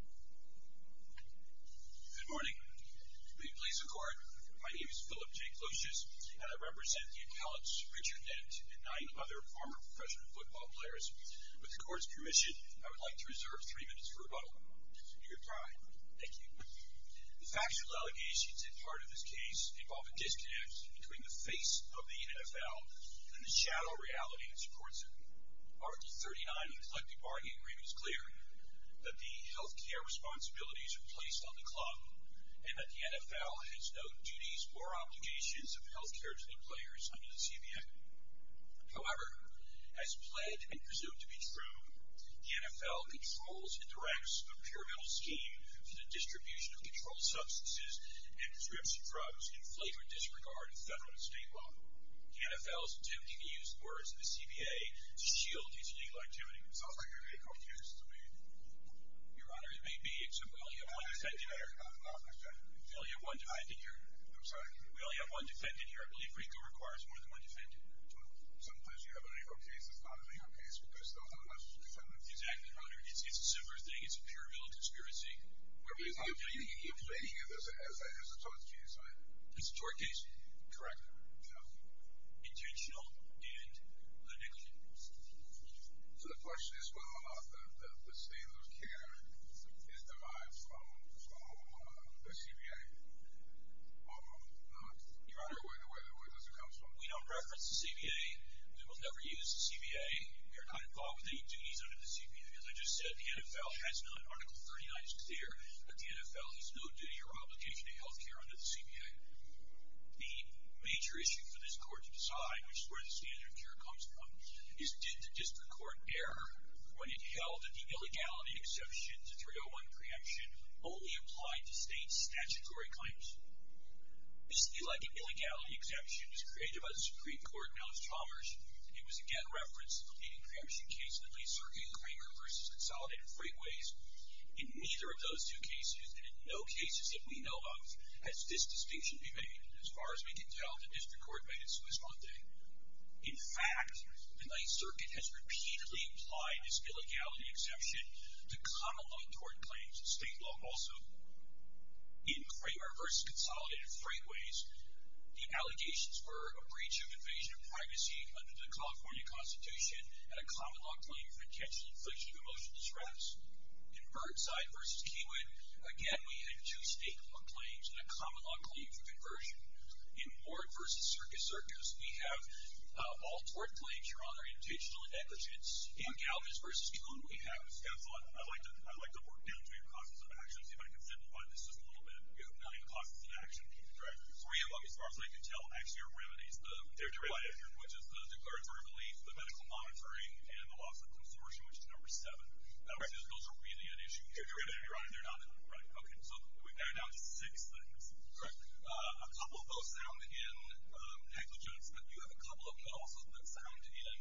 Good morning. Will you please record? My name is Philip J. Klosius, and I represent the appellants Richard Dent and nine other former professional football players. With the court's permission, I would like to reserve three minutes for rebuttal. Your time. Thank you. The factual allegations at heart of this case involve a disconnect between the face of the NFL and the shadow reality that supports it. Article 39 of the Collective Bargain Agreement is clear that the health care responsibilities are placed on the club, and that the NFL has no duties or obligations of health care to the players under the CBA. However, as pled and presumed to be true, the NFL controls and directs a pyramidal scheme for the distribution of controlled substances and prescription drugs in flight or disregard of federal and state law. The NFL's attempting to use the words of the CBA to shield its legal activity. Sounds like a legal case to me. Your Honor, it may be, except we only have one defendant here. I understand. We only have one defendant here. I'm sorry. We only have one defendant here. I believe RICO requires more than one defendant. Sometimes you have a legal case that's not a legal case because there's not enough defendants. Exactly, Your Honor. It's a similar thing. It's a pyramidal conspiracy. You're plating it as a tort case, right? It's a tort case? Correct. Intentional and legal. So the question is whether or not the standard of care is derived from the CBA. Your Honor, where does it come from? We don't reference the CBA. We will never use the CBA. We are not involved with any duties under the CBA. As I just said, the NFL has none. Article 39 is clear that the NFL has no duty or obligation to health care under the CBA. The major issue for this court to decide, which is where the standard of care comes from, is did the district court err when it held that the illegality exception to 301 preemption only applied to state statutory claims? This illegitimate illegality exception was created by the Supreme Court and Alex Chalmers. It was, again, referenced in the leading preemption case that lays Sergey Lagrimer versus Consolidated Freightways. In neither of those two cases, and in no cases that we know of, has this distinction been made. As far as we can tell, the district court made its Swiss Monday. In fact, the Ninth Circuit has repeatedly implied this illegality exception to common law tort claims. State law also. In Lagrimer versus Consolidated Freightways, the allegations were a breach of invasion of privacy under the California Constitution and a common law claim for intentional inflation of emotional distress. In Burnside versus Keywood, again, we had two state law claims and a common law claim for conversion. In Ward versus Circus Circus, we have all tort claims, Your Honor, in addition to negligence. In Galvez versus Kuhn, we have. I'd like to work down to your causes of action, see if I can simplify this just a little bit. You have nine causes of action. Three of them, as far as I can tell, actually are remedies. Which is the declaratory relief, the medical monitoring, and the loss of consortium, which is number seven. Those are really at issue here. Your Honor, they're not at issue. We've narrowed down to six things. A couple of those sound in negligence, but you have a couple of them also that sound in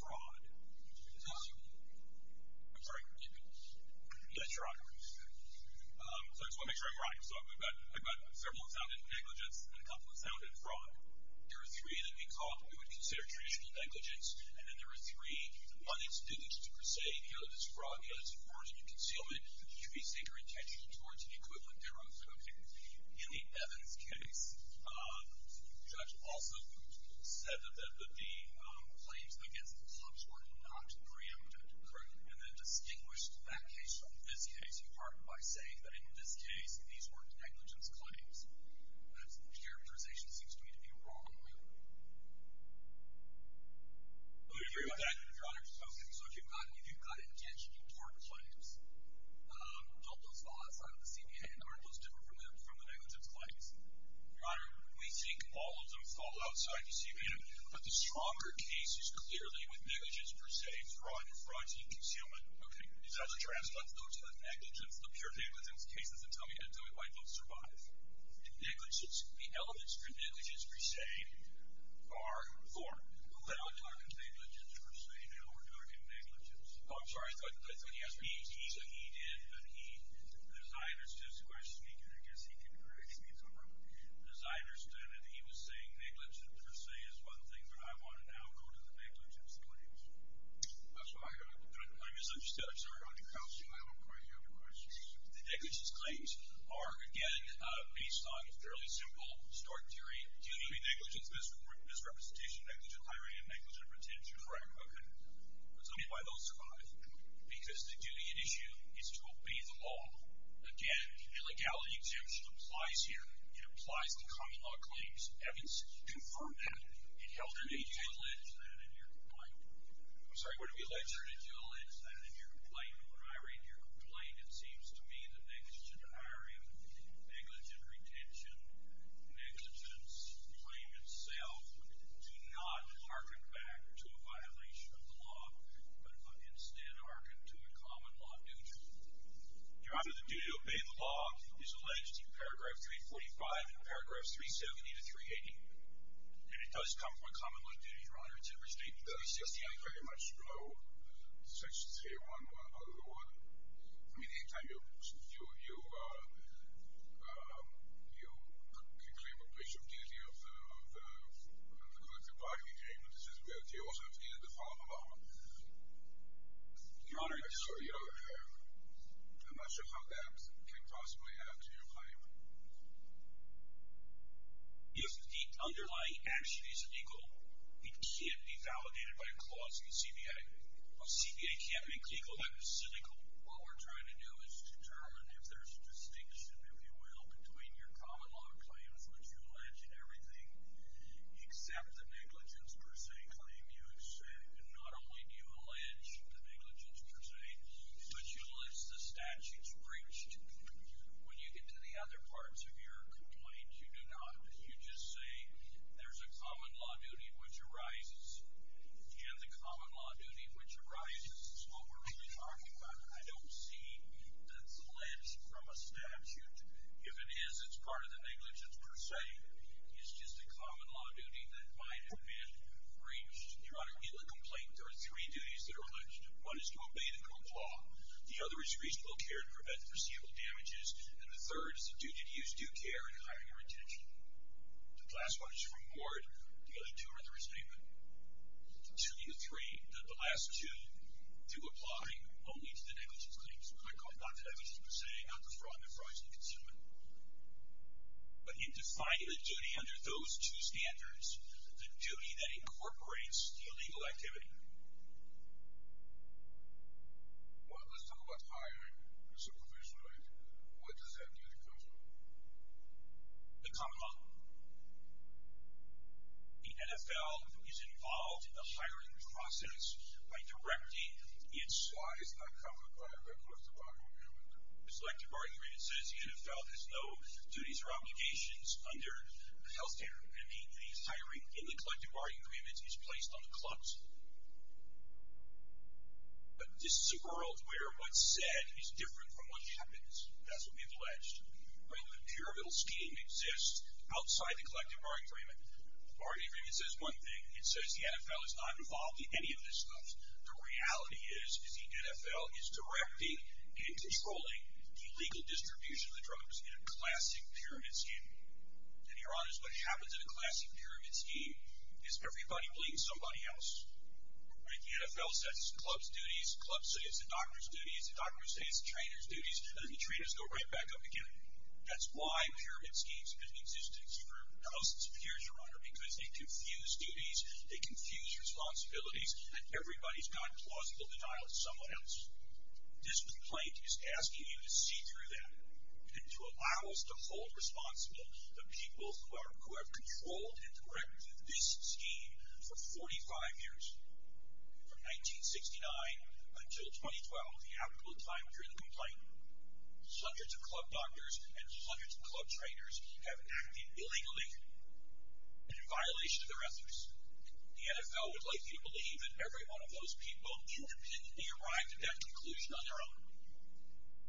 fraud. I'm sorry. Yes, Your Honor. I just want to make sure I'm right. I've got several that sound in negligence and a couple that sound in fraud. There are three that we would consider traditional negligence, and then there are three uninstituted to per se. The other is fraud, the other is fraudulent concealment. You should be super intentional towards the equivalent thereof. Okay. In the Evans case, the judge also said that the claims against the clubs were not preempted. Correct. And then distinguished that case from this case in part by saying that in this case, these were negligence claims. That's the characterization that seems to me to be wrong. Let me hear you again, Your Honor. Okay. So if you've got, again, important claims, don't those fall outside of the CBN? Aren't those different from the negligence claims? Your Honor, we think all of them fall outside the CBN, but the stronger case is clearly with negligence per se, fraud, fraudulent concealment. Okay. Is that what you're asking? Let's go to the negligence, the pure negligence cases, and tell me why they don't survive. Negligence, the elements for negligence per se are fraud. We're not talking negligence per se now. We're talking negligence. Oh, I'm sorry. I thought you asked me. He did, but he, as I understand the question, and I guess he can correct me if I'm wrong, as I understand it, he was saying negligence per se is one thing, but I want to now go to the negligence claims. That's what I heard. I misunderstood. I'm sorry. On the counseling, I don't quite hear the question. The negligence claims are, again, based on a fairly simple historic theory. Duty, negligence, misrepresentation, negligent hiring, and negligent pretension, fraud. Tell me why those survive. Because the duty at issue is to obey the law. Again, the illegality exemption applies here. It applies to common law claims. Evans confirmed that. It held him to a linchpin in a near-complaint. I'm sorry, what did he say? He held him to a linchpin in a near-complaint. When I read your complaint, it seems to me that negligent hiring, negligent retention, negligence claim itself do not hearken back to a violation of the law, but instead hearken to a common law duty. Your Honor, the duty to obey the law is alleged in paragraph 345 and paragraphs 370 to 380. And it does come from a common law duty, Your Honor. It's very much below section 301 of the law. I mean, anytime you claim a breach of duty of the collective bargaining agreement, it says that you also have a duty to follow the law. Your Honor, I'm not sure how that can possibly add to your claim. If the underlying action is illegal, it can't be validated by a clause in the CBA. A CBA can't make legal action illegal. What we're trying to do is determine if there's a distinction, if you will, between your common law claims, which you allege in everything, except the negligence per se claim. Not only do you allege the negligence per se, but you list the statutes breached. When you get to the other parts of your complaint, you do not. You just say there's a common law duty which arises, and the common law duty which arises is what we're really talking about. I don't see that's alleged from a statute. If it is, it's part of the negligence per se. It's just a common law duty that might have been breached. Your Honor, in the complaint, there are three duties that are alleged. One is to obey the code of law. The other is reasonable care to prevent foreseeable damages, and the third is the duty to use due care in hiring and retention. The last one is to reward. The other two are the restatement. The last two do apply only to the negligence claims. Not the negligence per se, not the fraud and the fraudulently consuming. But in defining the duty under those two standards, the duty that incorporates the illegal activity, Well, let's talk about hiring. It's a provision, right? What does that duty cover? The common law. The NFL is involved in the hiring process by directing its Why is that covered by the collective bargaining agreement? The collective bargaining agreement says the NFL has no duties or obligations under the health standard. And the hiring in the collective bargaining agreement is placed on the clubs. But this is a world where what's said is different from what happens. That's what we've alleged. The pyramidal scheme exists outside the collective bargaining agreement. The bargaining agreement says one thing. It says the NFL is not involved in any of this stuff. The reality is, is the NFL is directing and controlling the legal distribution of the drugs in a classic pyramid scheme. And, Your Honor, what happens in a classic pyramid scheme is everybody bleeds somebody else. Right? The NFL says it's the club's duties, the club says it's the doctor's duties, the doctor says it's the trainer's duties, and then the trainers go right back up again. That's why pyramid schemes have existed for thousands of years, Your Honor, because they confuse duties, they confuse responsibilities, and everybody's got plausible denial of someone else. This complaint is asking you to see through that and to allow us to hold responsible the people who have controlled and directed this scheme for 45 years. From 1969 until 2012, the applicable time during the complaint, hundreds of club doctors and hundreds of club trainers have acted illegally and in violation of their ethics. The NFL would like you to believe that every one of those people independently arrived at that conclusion on their own.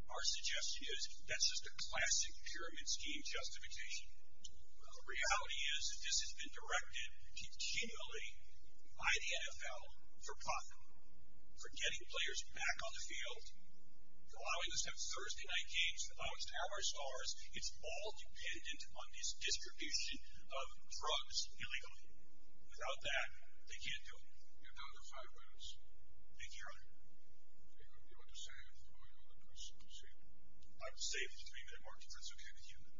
Our suggestion is that's just a classic pyramid scheme justification. The reality is that this has been directed continually by the NFL for profit, for getting players back on the field, allowing us to have Thursday night games, the box tower stars. It's all dependent on this distribution of drugs illegally. Without that, they can't do it. You have another five minutes. Thank you, Your Honor. Do you want to say anything, or do you want to proceed? I'll say three more questions. It's okay to hear that.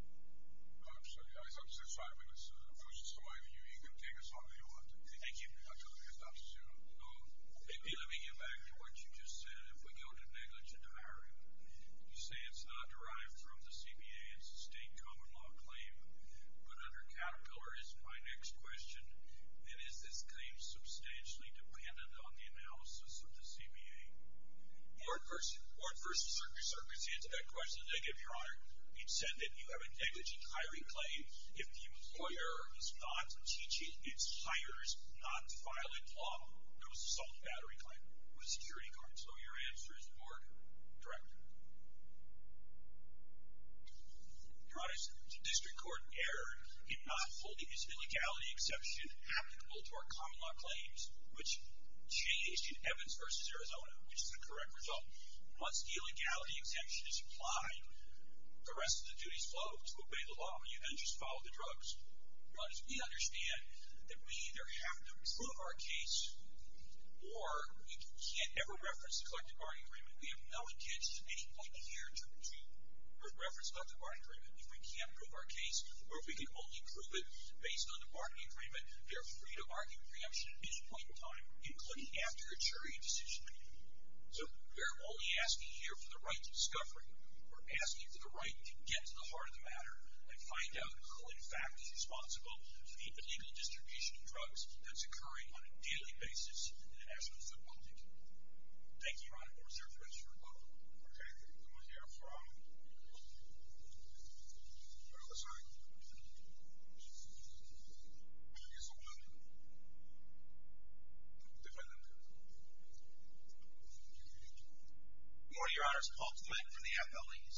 I'm sorry. I just want to say five minutes. If it's to my view, you can take as long as you want. Thank you. I'll tell the next officer to go. Let me get back to what you just said. If we go to negligent hiring, you say it's not derived from the CBA. It's a state common law claim. But under Caterpillar, my next question, then is this claim substantially dependent on the analysis of the CBA? Court versus circuit. Circuit's the answer to that question. Negative, Your Honor. It said that you have a negligent hiring claim if the employer is not teaching its hires not to file a claim. It was a solid battery claim. It was a security claim. So your answer is more correct. Your Honor, it's a district court error. If not, holding this illegality exception applicable to our common law claims, which changed in Evans v. Arizona, which is the correct result. Once the illegality exemption is applied, the rest of the duties flow to obey the law. You then just follow the drugs. Your Honor, we understand that we either have to prove our case or we can't ever reference the collective bargaining agreement. We have no intention at any point here to reference the collective bargaining agreement. If we can't prove our case or if we can only prove it based on the bargaining agreement, we are free to argue preemption at any point in time, including after a jury decision. So we are only asking here for the right to discovery. We're asking for the right to get to the heart of the matter and find out who, in fact, is responsible for the illegal distribution of drugs that's occurring on a daily basis in the national football league. Thank you, Your Honor. Court is adjourned. Okay, can we hear from the other side? Your Honor, it's Paul Clement from the FLEs.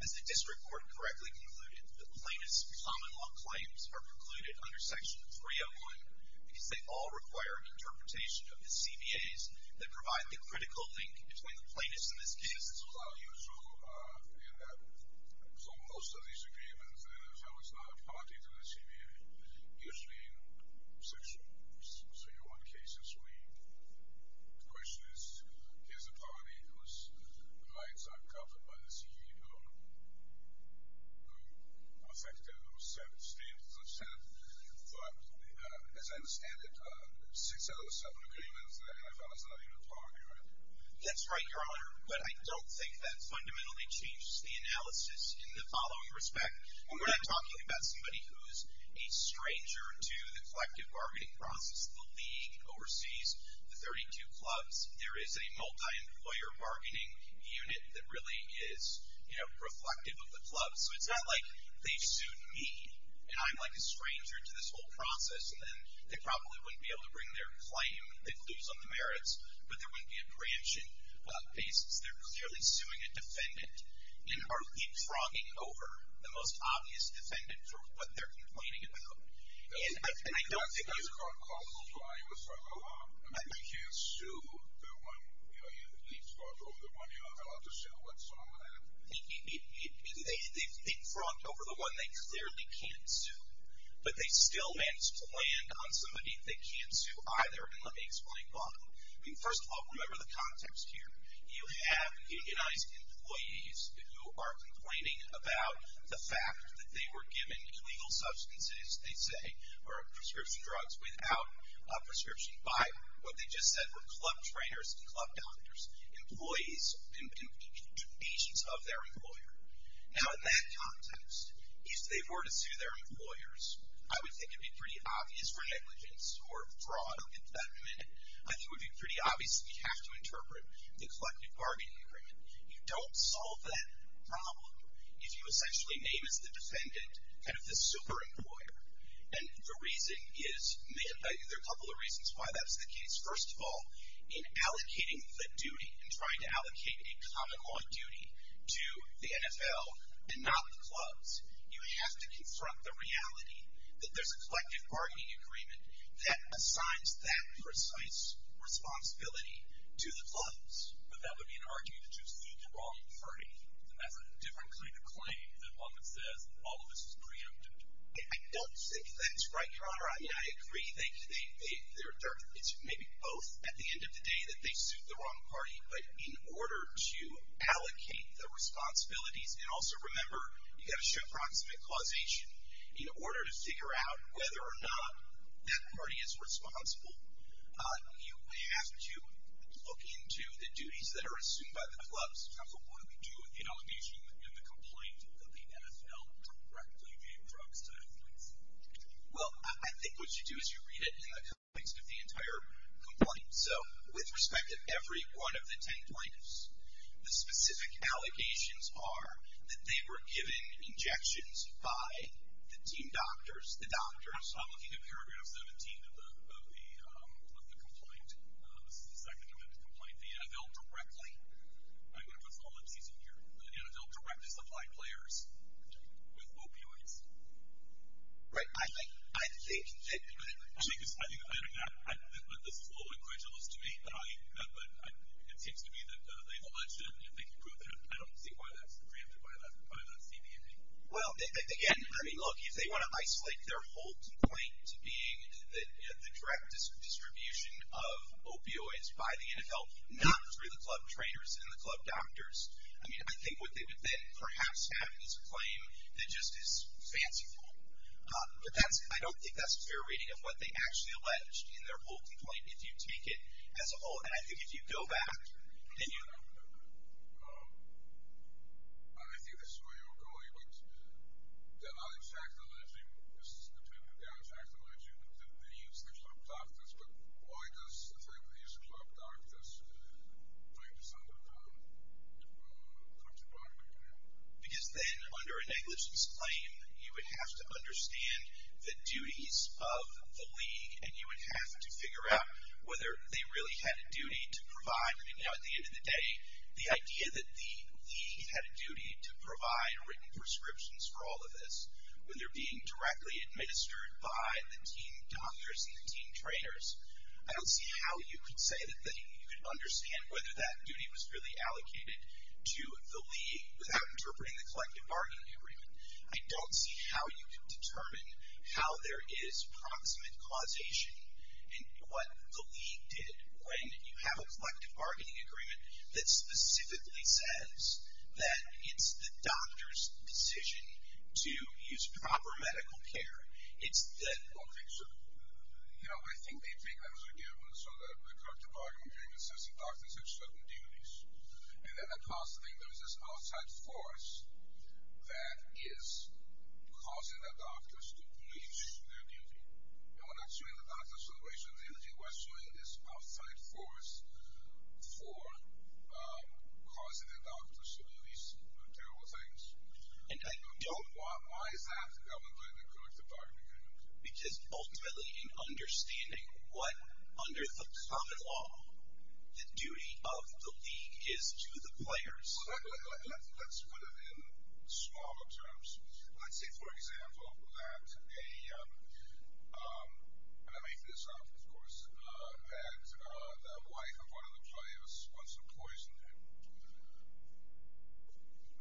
As the district court correctly concluded, the plaintiff's common law claims are precluded under Section 301 because they all require interpretation of the CBAs that provide the critical link between the plaintiff's and his case. This is unusual in that for most of these agreements, the NFL is not a party to the CBA. Usually in Section 301 cases, the question is, here's a party whose rights are covered by the CBA, who affect it, who set standards of set. But as I understand it, six out of the seven agreements, the NFL is not even a party, right? That's right, Your Honor, but I don't think that fundamentally changes the analysis in the following respect. When we're not talking about somebody who's a stranger to the collective bargaining process, the league, overseas, the 32 clubs, there is a multi-employer bargaining unit that really is reflective of the clubs. So it's not like they sued me and I'm like a stranger to this whole process and then they probably wouldn't be able to bring their claim, their clues on the merits, but there wouldn't be a branching basis. They're clearly suing a defendant and are leapfrogging over the most obvious defendant for what they're complaining about. And I don't think that's... You can't sue the one, you know, you leapfrog over the one you're not allowed to sue whatsoever. They leapfrogged over the one they clearly can't sue, but they still managed to land on somebody they can't sue either. And let me explain why. I mean, first of all, remember the context here. You have unionized employees who are complaining about the fact that they were given legal substances, they say, or prescription drugs, without a prescription by what they just said were club trainers and club doctors, employees and patients of their employer. Now in that context, if they were to sue their employers, I would think it would be pretty obvious for negligence or fraud or embezzlement. I think it would be pretty obvious that we have to interpret the collective bargaining agreement. You don't solve that problem if you essentially name as the defendant kind of the super employer. And the reason is, there are a couple of reasons why that's the case. First of all, in allocating the duty, in trying to allocate a common law duty to the NFL and not the clubs, you have to confront the reality that there's a collective bargaining agreement that assigns that precise responsibility to the clubs. But that would be an argument to sue the wrong party. And that's a different kind of claim than one that says all of this is preempted. I don't think that's right, Your Honor. I mean, I agree. It's maybe both at the end of the day that they sued the wrong party. But in order to allocate the responsibilities, and also remember, you've got to show proximate causation. In order to figure out whether or not that party is responsible, you have to look into the duties that are assumed by the clubs. What do we do with the allegation in the complaint that the NFL directly gave drugs to athletes? Well, I think what you do is you read it in the context of the entire complaint. So, with respect to every one of the 10 plaintiffs, the specific allegations are that they were given injections by the team doctors, the doctors. I'm looking at paragraph 17 of the complaint. This is the second one in the complaint. The NFL directly. I'm going to put some olympsies in here. The NFL directly supplied players with opioids. Right. I think that. But this is a little incredulous to me. It seems to me that they've alleged that, and if they can prove that, I don't see why that's preempted by that CBAP. Well, again, I mean, look, if they want to isolate their whole complaint to being the direct distribution of opioids by the NFL, not through the club trainers and the club doctors, I mean, I think what they would then perhaps have is a claim that just is fanciful. But I don't think that's a fair reading of what they actually alleged in their whole complaint. If you take it as a whole, and I think if you go back and you. I think this is where you're going, but they're not exactly alleging, this is definitive, they're not exactly alleging that they used the club doctors, but why does the fact that they used the club doctors put this under the contract? Because then under a negligence claim, you would have to understand the duties of the league, and you would have to figure out whether they really had a duty to provide. I mean, now at the end of the day, the idea that the league had a duty to provide written prescriptions for all of this, when they're being directly administered by the team doctors and the team trainers, I don't see how you could say that you could understand whether that duty was really allocated to the league without interpreting the collective bargaining agreement. I don't see how you could determine how there is proximate causation and what the league did when you have a collective bargaining agreement that specifically says that it's the doctor's decision to use proper medical care. It's the. Okay, sure. No, I think they take that as a given. So the collective bargaining agreement says the doctors have certain duties. And then across the thing, there's this outside force that is causing the doctors to breach their duty. And we're not showing the doctors the racial integrity. We're showing this outside force for causing the doctors to do these terrible things. Why is that governed by the collective bargaining agreement? Because ultimately in understanding what, under the common law, the duty of the league is to the players. Well, let's put it in smaller terms. Let's say, for example, that a, and I make this up, of course, that the wife of one of the players wants to poison him.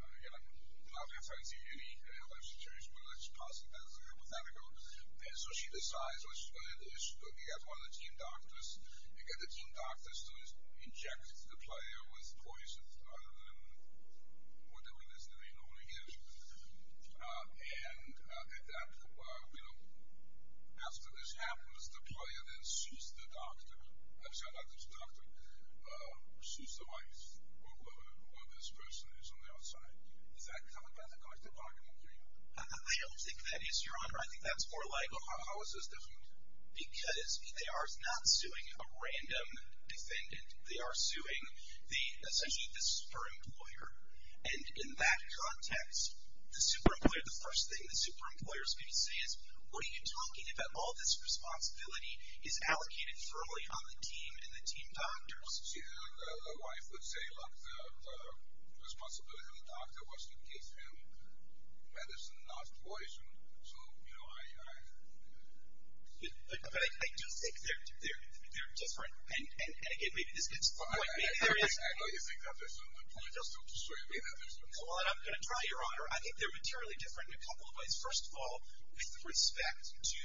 Again, I'm not going to try to give you any alleged truth, but let's posit that as a hypothetical. And so she decides she's going to get one of the team doctors and get one of the team doctors to inject the player with poison, rather than whatever it is that he normally is. And at that, you know, after this happens, the player then sues the doctor. I'm sorry, not the doctor. Sues the wife or whoever this person is on the outside. Is that governed by the collective bargaining agreement? I don't think that is, Your Honor. I think that's more like. How is this different? Because they are not suing a random defendant. They are suing the, essentially, the super employer. And in that context, the super employer, the first thing the super employer is going to say is, what are you talking about? All this responsibility is allocated thoroughly on the team and the team doctors. See, the wife would say, look, the responsibility of the doctor was to give him medicine, not poison. So, you know, I. But I do think they're different. And again, maybe this gets to the point. Maybe there is. I know you think that. But please don't destroy me. Well, I'm going to try, Your Honor. I think they're materially different in a couple of ways. First of all, with respect to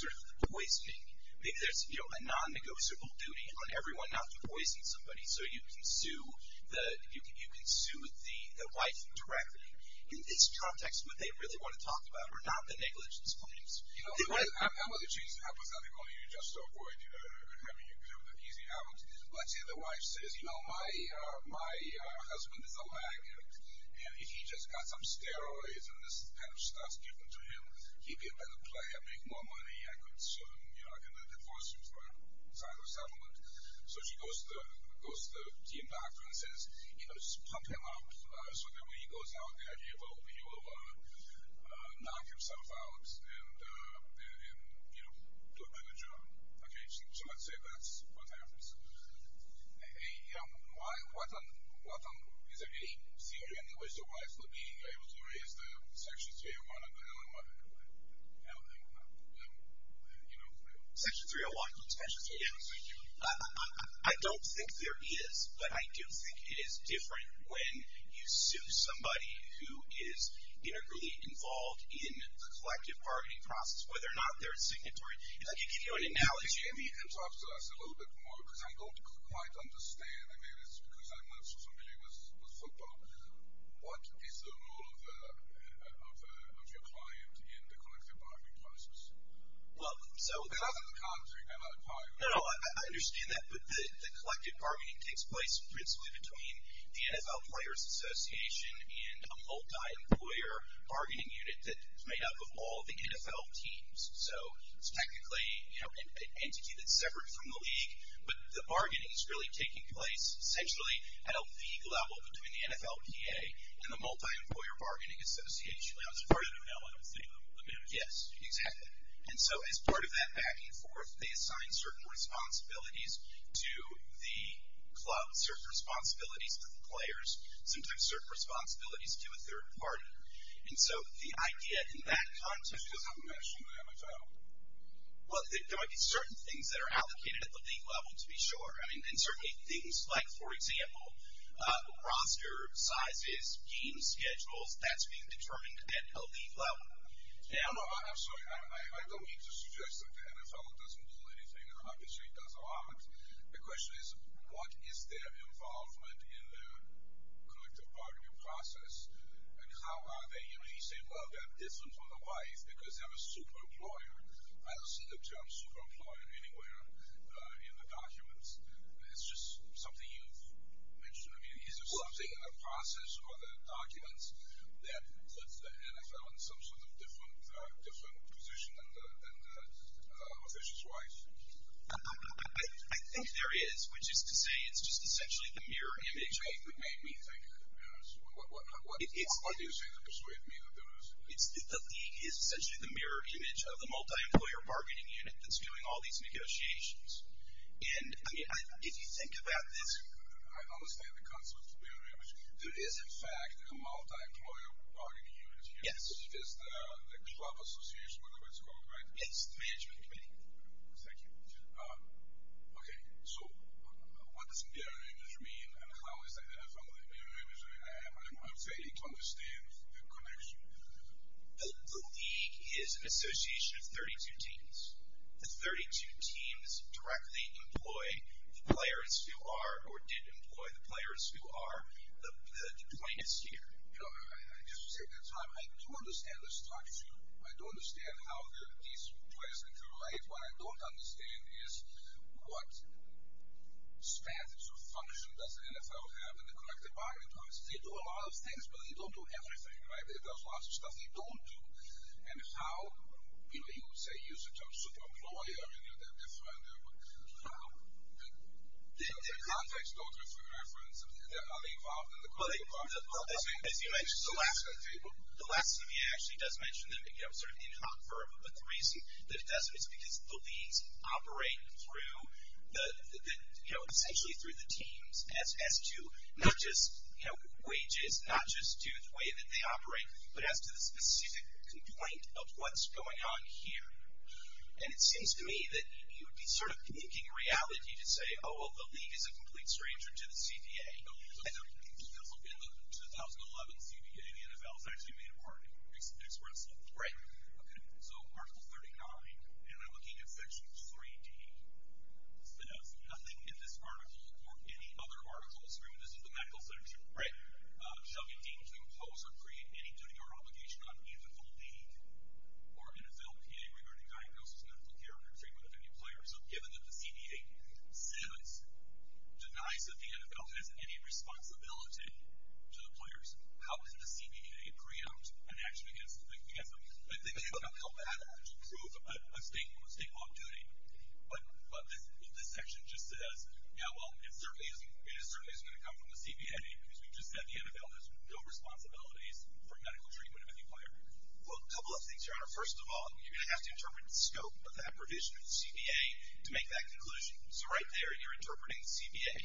sort of the poisoning. Maybe there's, you know, a non-negotiable duty on everyone not to poison somebody. So you can sue the wife directly. In this context, what they really want to talk about are not the negligence claims. You know, Emily, she's hypothetical. You just avoid, you know, having an easy out. Let's say the wife says, you know, my husband is a laggard. And if he just got some steroids and this kind of stuff is given to him, he'd be a better player, make more money. I could sue him. You know, I could divorce him for a time of settlement. So she goes to the team doctor and says, you know, just pump him up. So that when he goes out, he will knock himself out and, you know, do a better job. Okay. So let's say that's what happens. You know, is there any theory in which the wife would be able to erase the Section 301 and the LMO? Section 301. I don't think there is. But I do think it is different when you sue somebody who is integrally involved in the collective bargaining process, whether or not they're a signatory. And I can give you an analogy. And talk to us a little bit more, because I don't quite understand. I mean, it's because I'm not so familiar with football. What is the role of your client in the collective bargaining process? Well, so. Because as a contractor, you cannot hire. No, no, I understand that. But the collective bargaining takes place principally between the NFL Players Association and a multi-employer bargaining unit that is made up of all the NFL teams. So it's technically, you know, an entity that's separate from the league. But the bargaining is really taking place essentially at a league level between the NFLPA and the Multi-Employer Bargaining Association. As part of an LMO. Yes, exactly. And so as part of that back and forth, they assign certain responsibilities to the club, certain responsibilities to the players, sometimes certain responsibilities to a third party. And so the idea in that context. Because I'm not sure of the NFL. Well, there might be certain things that are allocated at the league level, to be sure. And certainly things like, for example, roster sizes, game schedules, that's being determined at a league level. No, no, I'm sorry. I don't mean to suggest that the NFL doesn't do anything, and obviously it does a lot. The question is, what is their involvement in the collective bargaining process? And how are they, you know, you say, well, they're different from the wife because they're a super employer. I don't see the term super employer anywhere in the documents. It's just something you've mentioned. I mean, is there something in the process or the documents that puts the club in a better position than the official's wife? I think there is, which is to say it's just essentially the mirror image. It made me think. What do you say to persuade me that there is? It's essentially the mirror image of the multi-employer bargaining unit that's doing all these negotiations. And, I mean, if you think about this. I understand the concept of mirror image. There is, in fact, a multi-employer bargaining unit here. Yes. It's the club association, whatever it's called, right? It's the management committee. Thank you. Okay. So, what does mirror image mean, and how is that? If I'm the mirror image, am I failing to understand the connection? The league is an association of 32 teams. The 32 teams directly employ the players who are or did employ the players who are the plaintiffs here. I do understand the structure. I do understand how these players interrelate. What I don't understand is what status or function does the NFL have in the collective bargaining process? They do a lot of things, but they don't do everything, right? There's lots of stuff they don't do. And how, you know, you would say use the term super-employer. They're different. How? The contracts don't have a reference. Well, as you mentioned, the last CBA actually does mention that, you know, sort of in hot verb, but the reason that it doesn't is because the leagues operate through, you know, essentially through the teams as to not just, you know, wages, not just due to the way that they operate, but as to the specific complaint of what's going on here. And it seems to me that you would be sort of making a reality to say, Oh, well, the league is a complete stranger to the CBA. In the 2011 CBA, the NFL has actually made a bargain expressly. Right. Okay. So Article 39, and I'm looking at Section 3D, says nothing in this article or any other article, this is the medical section, shall be deemed to impose or create any duty or obligation on either the league or NFLPA regarding diagnosis, medical care, or treatment of any players. So given that the CBA says, denies that the NFL has any responsibility to the players, how can the CBA preempt an action against them? I think they would help to prove a state law of duty. But this section just says, yeah, well, it certainly isn't going to come from the CBA because we just said the NFL has no responsibilities for medical treatment of any player. Well, a couple of things, Your Honor. First of all, you're going to have to interpret the scope of that provision of the CBA to make that conclusion. So right there, you're interpreting the CBA.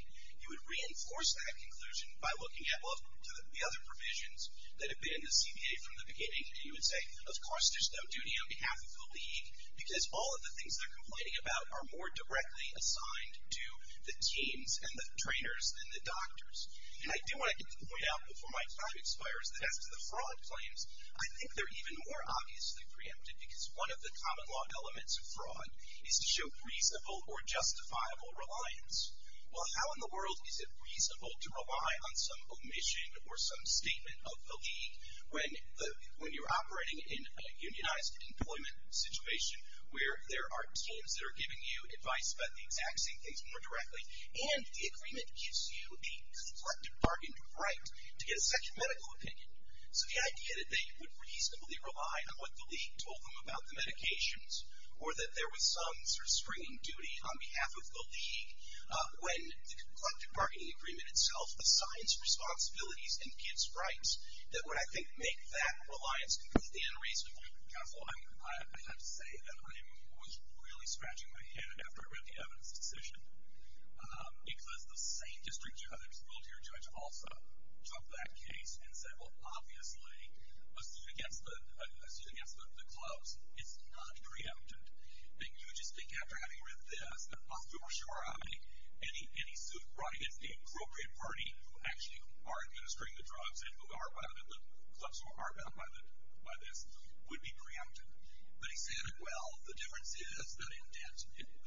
You would reinforce that conclusion by looking at, well, to the other provisions that have been in the CBA from the beginning. And you would say, of course, there's no duty on behalf of the league because all of the things they're complaining about are more directly assigned to the teams and the trainers than the doctors. And I do want to get to the point out before my time expires that as to the fraud claims, I think they're even more obviously preempted because one of the common law elements of fraud is to show reasonable or justifiable reliance. Well, how in the world is it reasonable to rely on some omission or some statement of the league when you're operating in a unionized employment situation where there are teams that are giving you advice about the exact same things more directly, and the agreement gives you the conflicted bargain right to get a medical opinion. So the idea that they would reasonably rely on what the league told them about the medications or that there was some sort of stringing duty on behalf of the league when the conflicted bargaining agreement itself assigns responsibilities and gives rights that would, I think, make that reliance completely unreasonable. Counsel, I have to say that I was really scratching my head after I read the evidence decision because the same district judge, military judge also took that case and said, well, obviously a suit against the clubs is not preempted. And you just think after having read this that I'm super sure any suit brought against the appropriate party who actually are administering the drugs and who are bound in the clubs who are bound by this would be preempted. But he said, well, the difference is that in debt,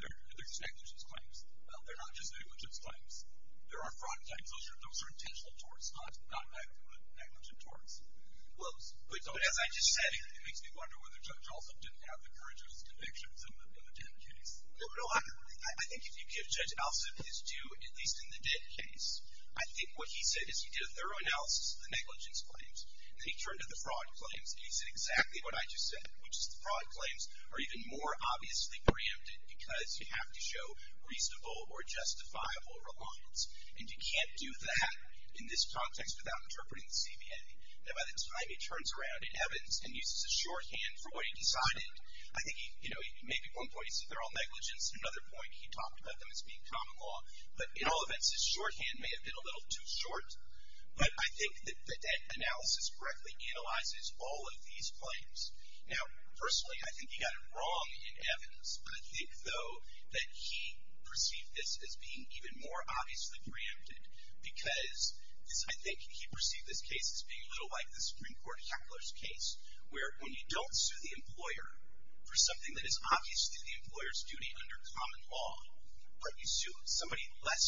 they're just negligence claims. They're not just negligence claims. There are fraud claims. Those are intentional torts, not negligent torts. But as I just said, it makes me wonder whether Judge Alsup didn't have the courage of his convictions in the debt case. I think if you give Judge Alsup his due, at least in the debt case, I think what he said is he did a thorough analysis of the negligence claims. Then he turned to the fraud claims, and he said exactly what I just said, which is the fraud claims are even more obviously preempted because you have to have reasonable or justifiable reliance. And you can't do that in this context without interpreting the CBA. And by the time he turns around in evidence and uses his shorthand for what he decided, I think he, you know, maybe at one point he said they're all negligence. At another point he talked about them as being common law. But in all events, his shorthand may have been a little too short. But I think that that analysis correctly analyzes all of these claims. Now, personally, I think he got it wrong in evidence. But I think, though, that he perceived this as being even more obviously preempted because I think he perceived this case as being a little like the Supreme Court heckler's case, where when you don't sue the employer for something that is obviously the employer's duty under common law, but you sue somebody less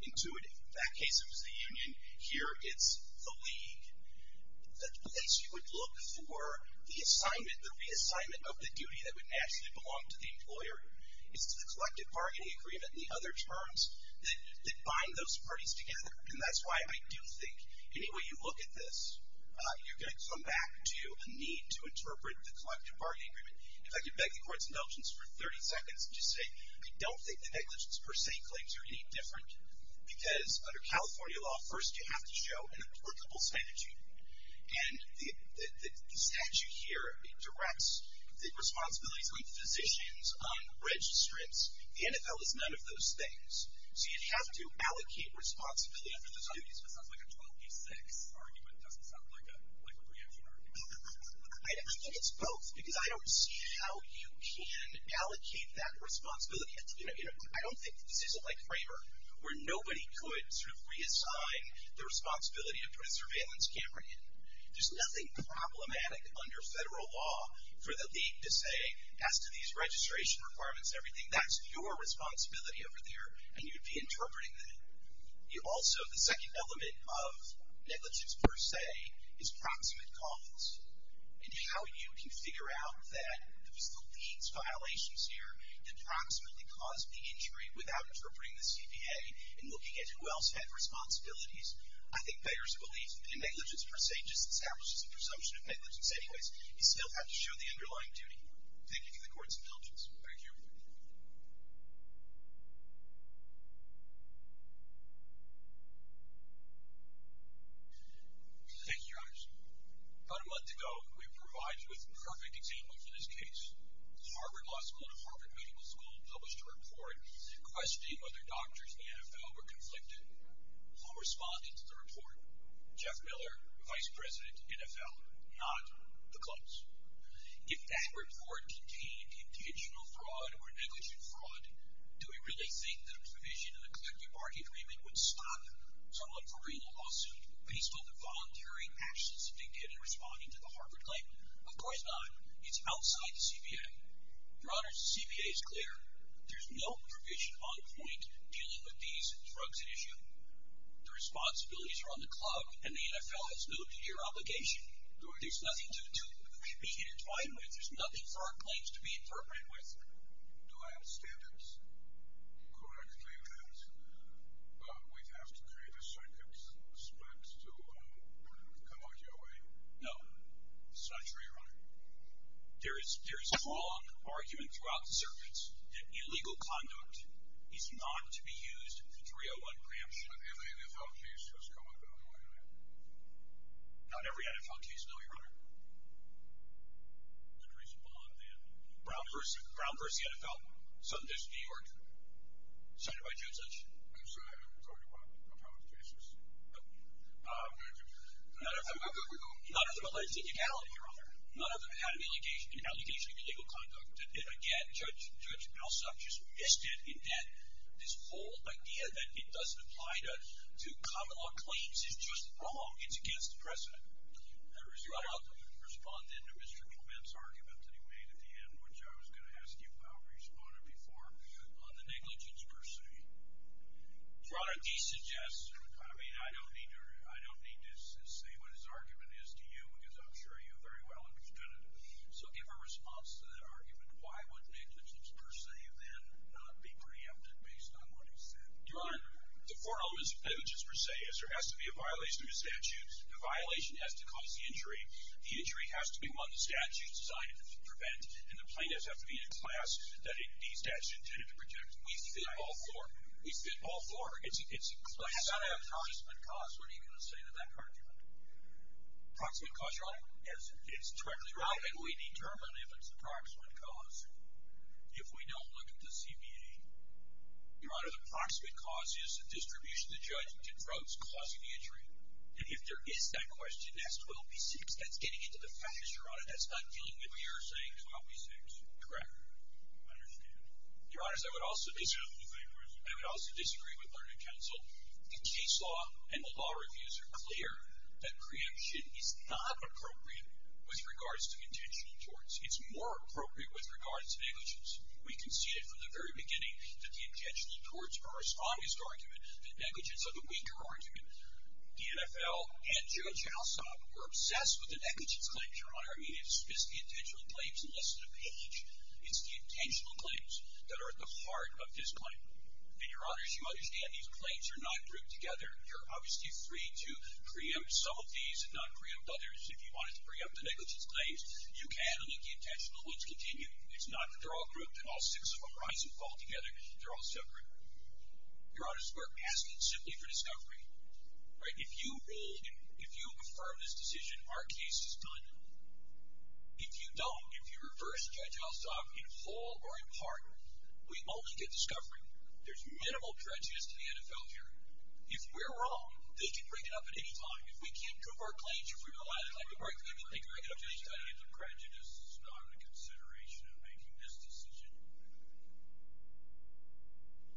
intuitive. In that case it was the union. Here it's the league. The place you would look for the assignment, the reassignment of the duty that would naturally belong to the employer. It's the collective bargaining agreement and the other terms that bind those parties together. And that's why I do think any way you look at this, you're going to come back to a need to interpret the collective bargaining agreement. If I could beg the Court's indulgence for 30 seconds and just say, I don't think the negligence per se claims are any different because under California law, first you have to show an applicable sanitude. And the statute here directs the responsibilities on physicians, on registrants. The NFL is none of those things. So you have to allocate responsibility for those duties. It sounds like a 12 v. 6 argument. It doesn't sound like a preemption argument. I think it's both because I don't see how you can allocate that responsibility. I don't think this is like Kramer, where nobody could sort of reassign the responsibility to put a surveillance camera in. There's nothing problematic under federal law for the league to say, as to these registration requirements and everything, that's your responsibility over there and you'd be interpreting that. Also, the second element of negligence per se is proximate cause. And how you can figure out that it was the league's violations here that proximately caused the injury without interpreting the CPA and looking at who else had responsibilities. I think Bayer's belief in negligence per se just establishes a presumption of negligence. Anyways, you still have to show the underlying duty. Thank you to the courts indulgence. Thank you. Thank you, Your Honor. About a month ago, we were provided with the perfect example for this case. The Harvard Law School and the Harvard Medical School published a report questioning whether doctors in the NFL were conflicted. Who responded to the report? Jeff Miller, Vice President, NFL. Not the clubs. If that report contained intentional fraud or negligent fraud, do we really think that a provision in the collective bargaining agreement would stop someone from reading a lawsuit based on the voluntary actions dictated in responding to the Harvard claim? Of course not. It's outside the CPA. Your Honor, the CPA is clear. There's no provision on point dealing with these drugs at issue. The responsibilities are on the club, and the NFL has no clear obligation. There's nothing to be intertwined with. There's nothing for our claims to be interpreted with. Do I understand it correctly that we'd have to create a circuit split to come out your way? No. That's not true, Your Honor. There is strong argument throughout the circuits that illegal conduct is not to be used for 301 preemption. But every NFL case has come up that way, right? Not every NFL case, no, Your Honor. That's a reasonable amount, then. Brown vs. the NFL, Sundance, New York. Signed by Judge Lynch. I'm sorry, I haven't told you about the cases. None of them have a legitimacy, Your Honor. None of them have an allegation of illegal conduct. And again, Judge Alsop just missed it in that this whole idea that it doesn't apply to common law claims is just wrong. It's against the precedent. Your Honor, I'll respond then to Mr. Coleman's argument that he made at the end, which I was going to ask you about where you responded before, on the negligence per se. Your Honor, he suggests, I mean, I don't need to say what his argument is to you, because I'm sure you very well understand it. So give a response to that argument. Why would negligence per se then not be preempted based on what he said? Your Honor, the four elements of negligence per se, is there has to be a violation of the statute, the violation has to cause the injury, the injury has to be one the statute decided to prevent, and the plaintiffs have to be in a class that the statute intended to protect. We fit all four. We fit all four. It's a class. But how about approximate cause? What are you going to say to that argument? Approximate cause, Your Honor? It's directly relevant. We determine if it's the approximate cause. If we don't look at the CBA, Your Honor, the approximate cause is the distribution the judge convokes causing the injury. And if there is that question, that's 12B6. That's getting into the facts, Your Honor. That's not dealing with what you're saying, 12B6. Correct. I understand. Your Honor, I would also disagree with Learned Counsel. The case law and the law reviews are clear that preemption is not appropriate with regards to intentional torts. It's more appropriate with regards to negligence. We can see it from the very beginning that the intentional torts are our strongest argument. The negligence are the weaker argument. The NFL and Judge Alsop were obsessed with the negligence claims, Your Honor. I mean, it's just the intentional claims and less than a page. It's the intentional claims that are at the heart of this claim. And, Your Honors, you understand these claims are not grouped together. You're obviously free to preempt some of these and not preempt others. If you wanted to preempt the negligence claims, you can, and the intentional ones continue. It's not that they're all grouped and all six of them rise and fall together. They're all separate. Your Honors, we're asking simply for discovery. Right? If you rule, if you affirm this decision, our case is done. If you don't, if you reverse Judge Alsop in full or in part, we only get discovery. There's minimal prejudice to the NFL here. If we're wrong, they can bring it up at any time. If we can't prove our claims, if we don't have it, they can bring it up at any time. The prejudice is not a consideration in making this decision.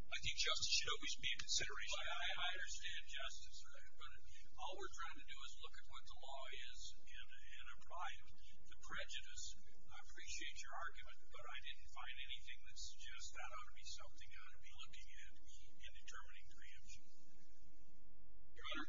I think justice should always be a consideration. I understand justice, but all we're trying to do is look at what the law is and apply it. The prejudice, I appreciate your argument, but I didn't find anything that suggests that ought to be something I ought to be looking at in determining preemption. Your Honor,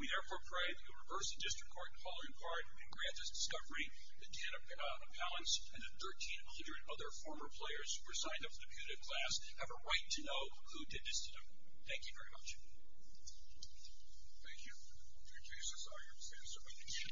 we therefore pray that you reverse the district court in full or in part and grant us discovery, the 10 appellants and the 1,300 other former players who were signed up for the PUDA class have a right to know who did this to them. Thank you very much. Thank you. Thank you. Thank you. Thank you.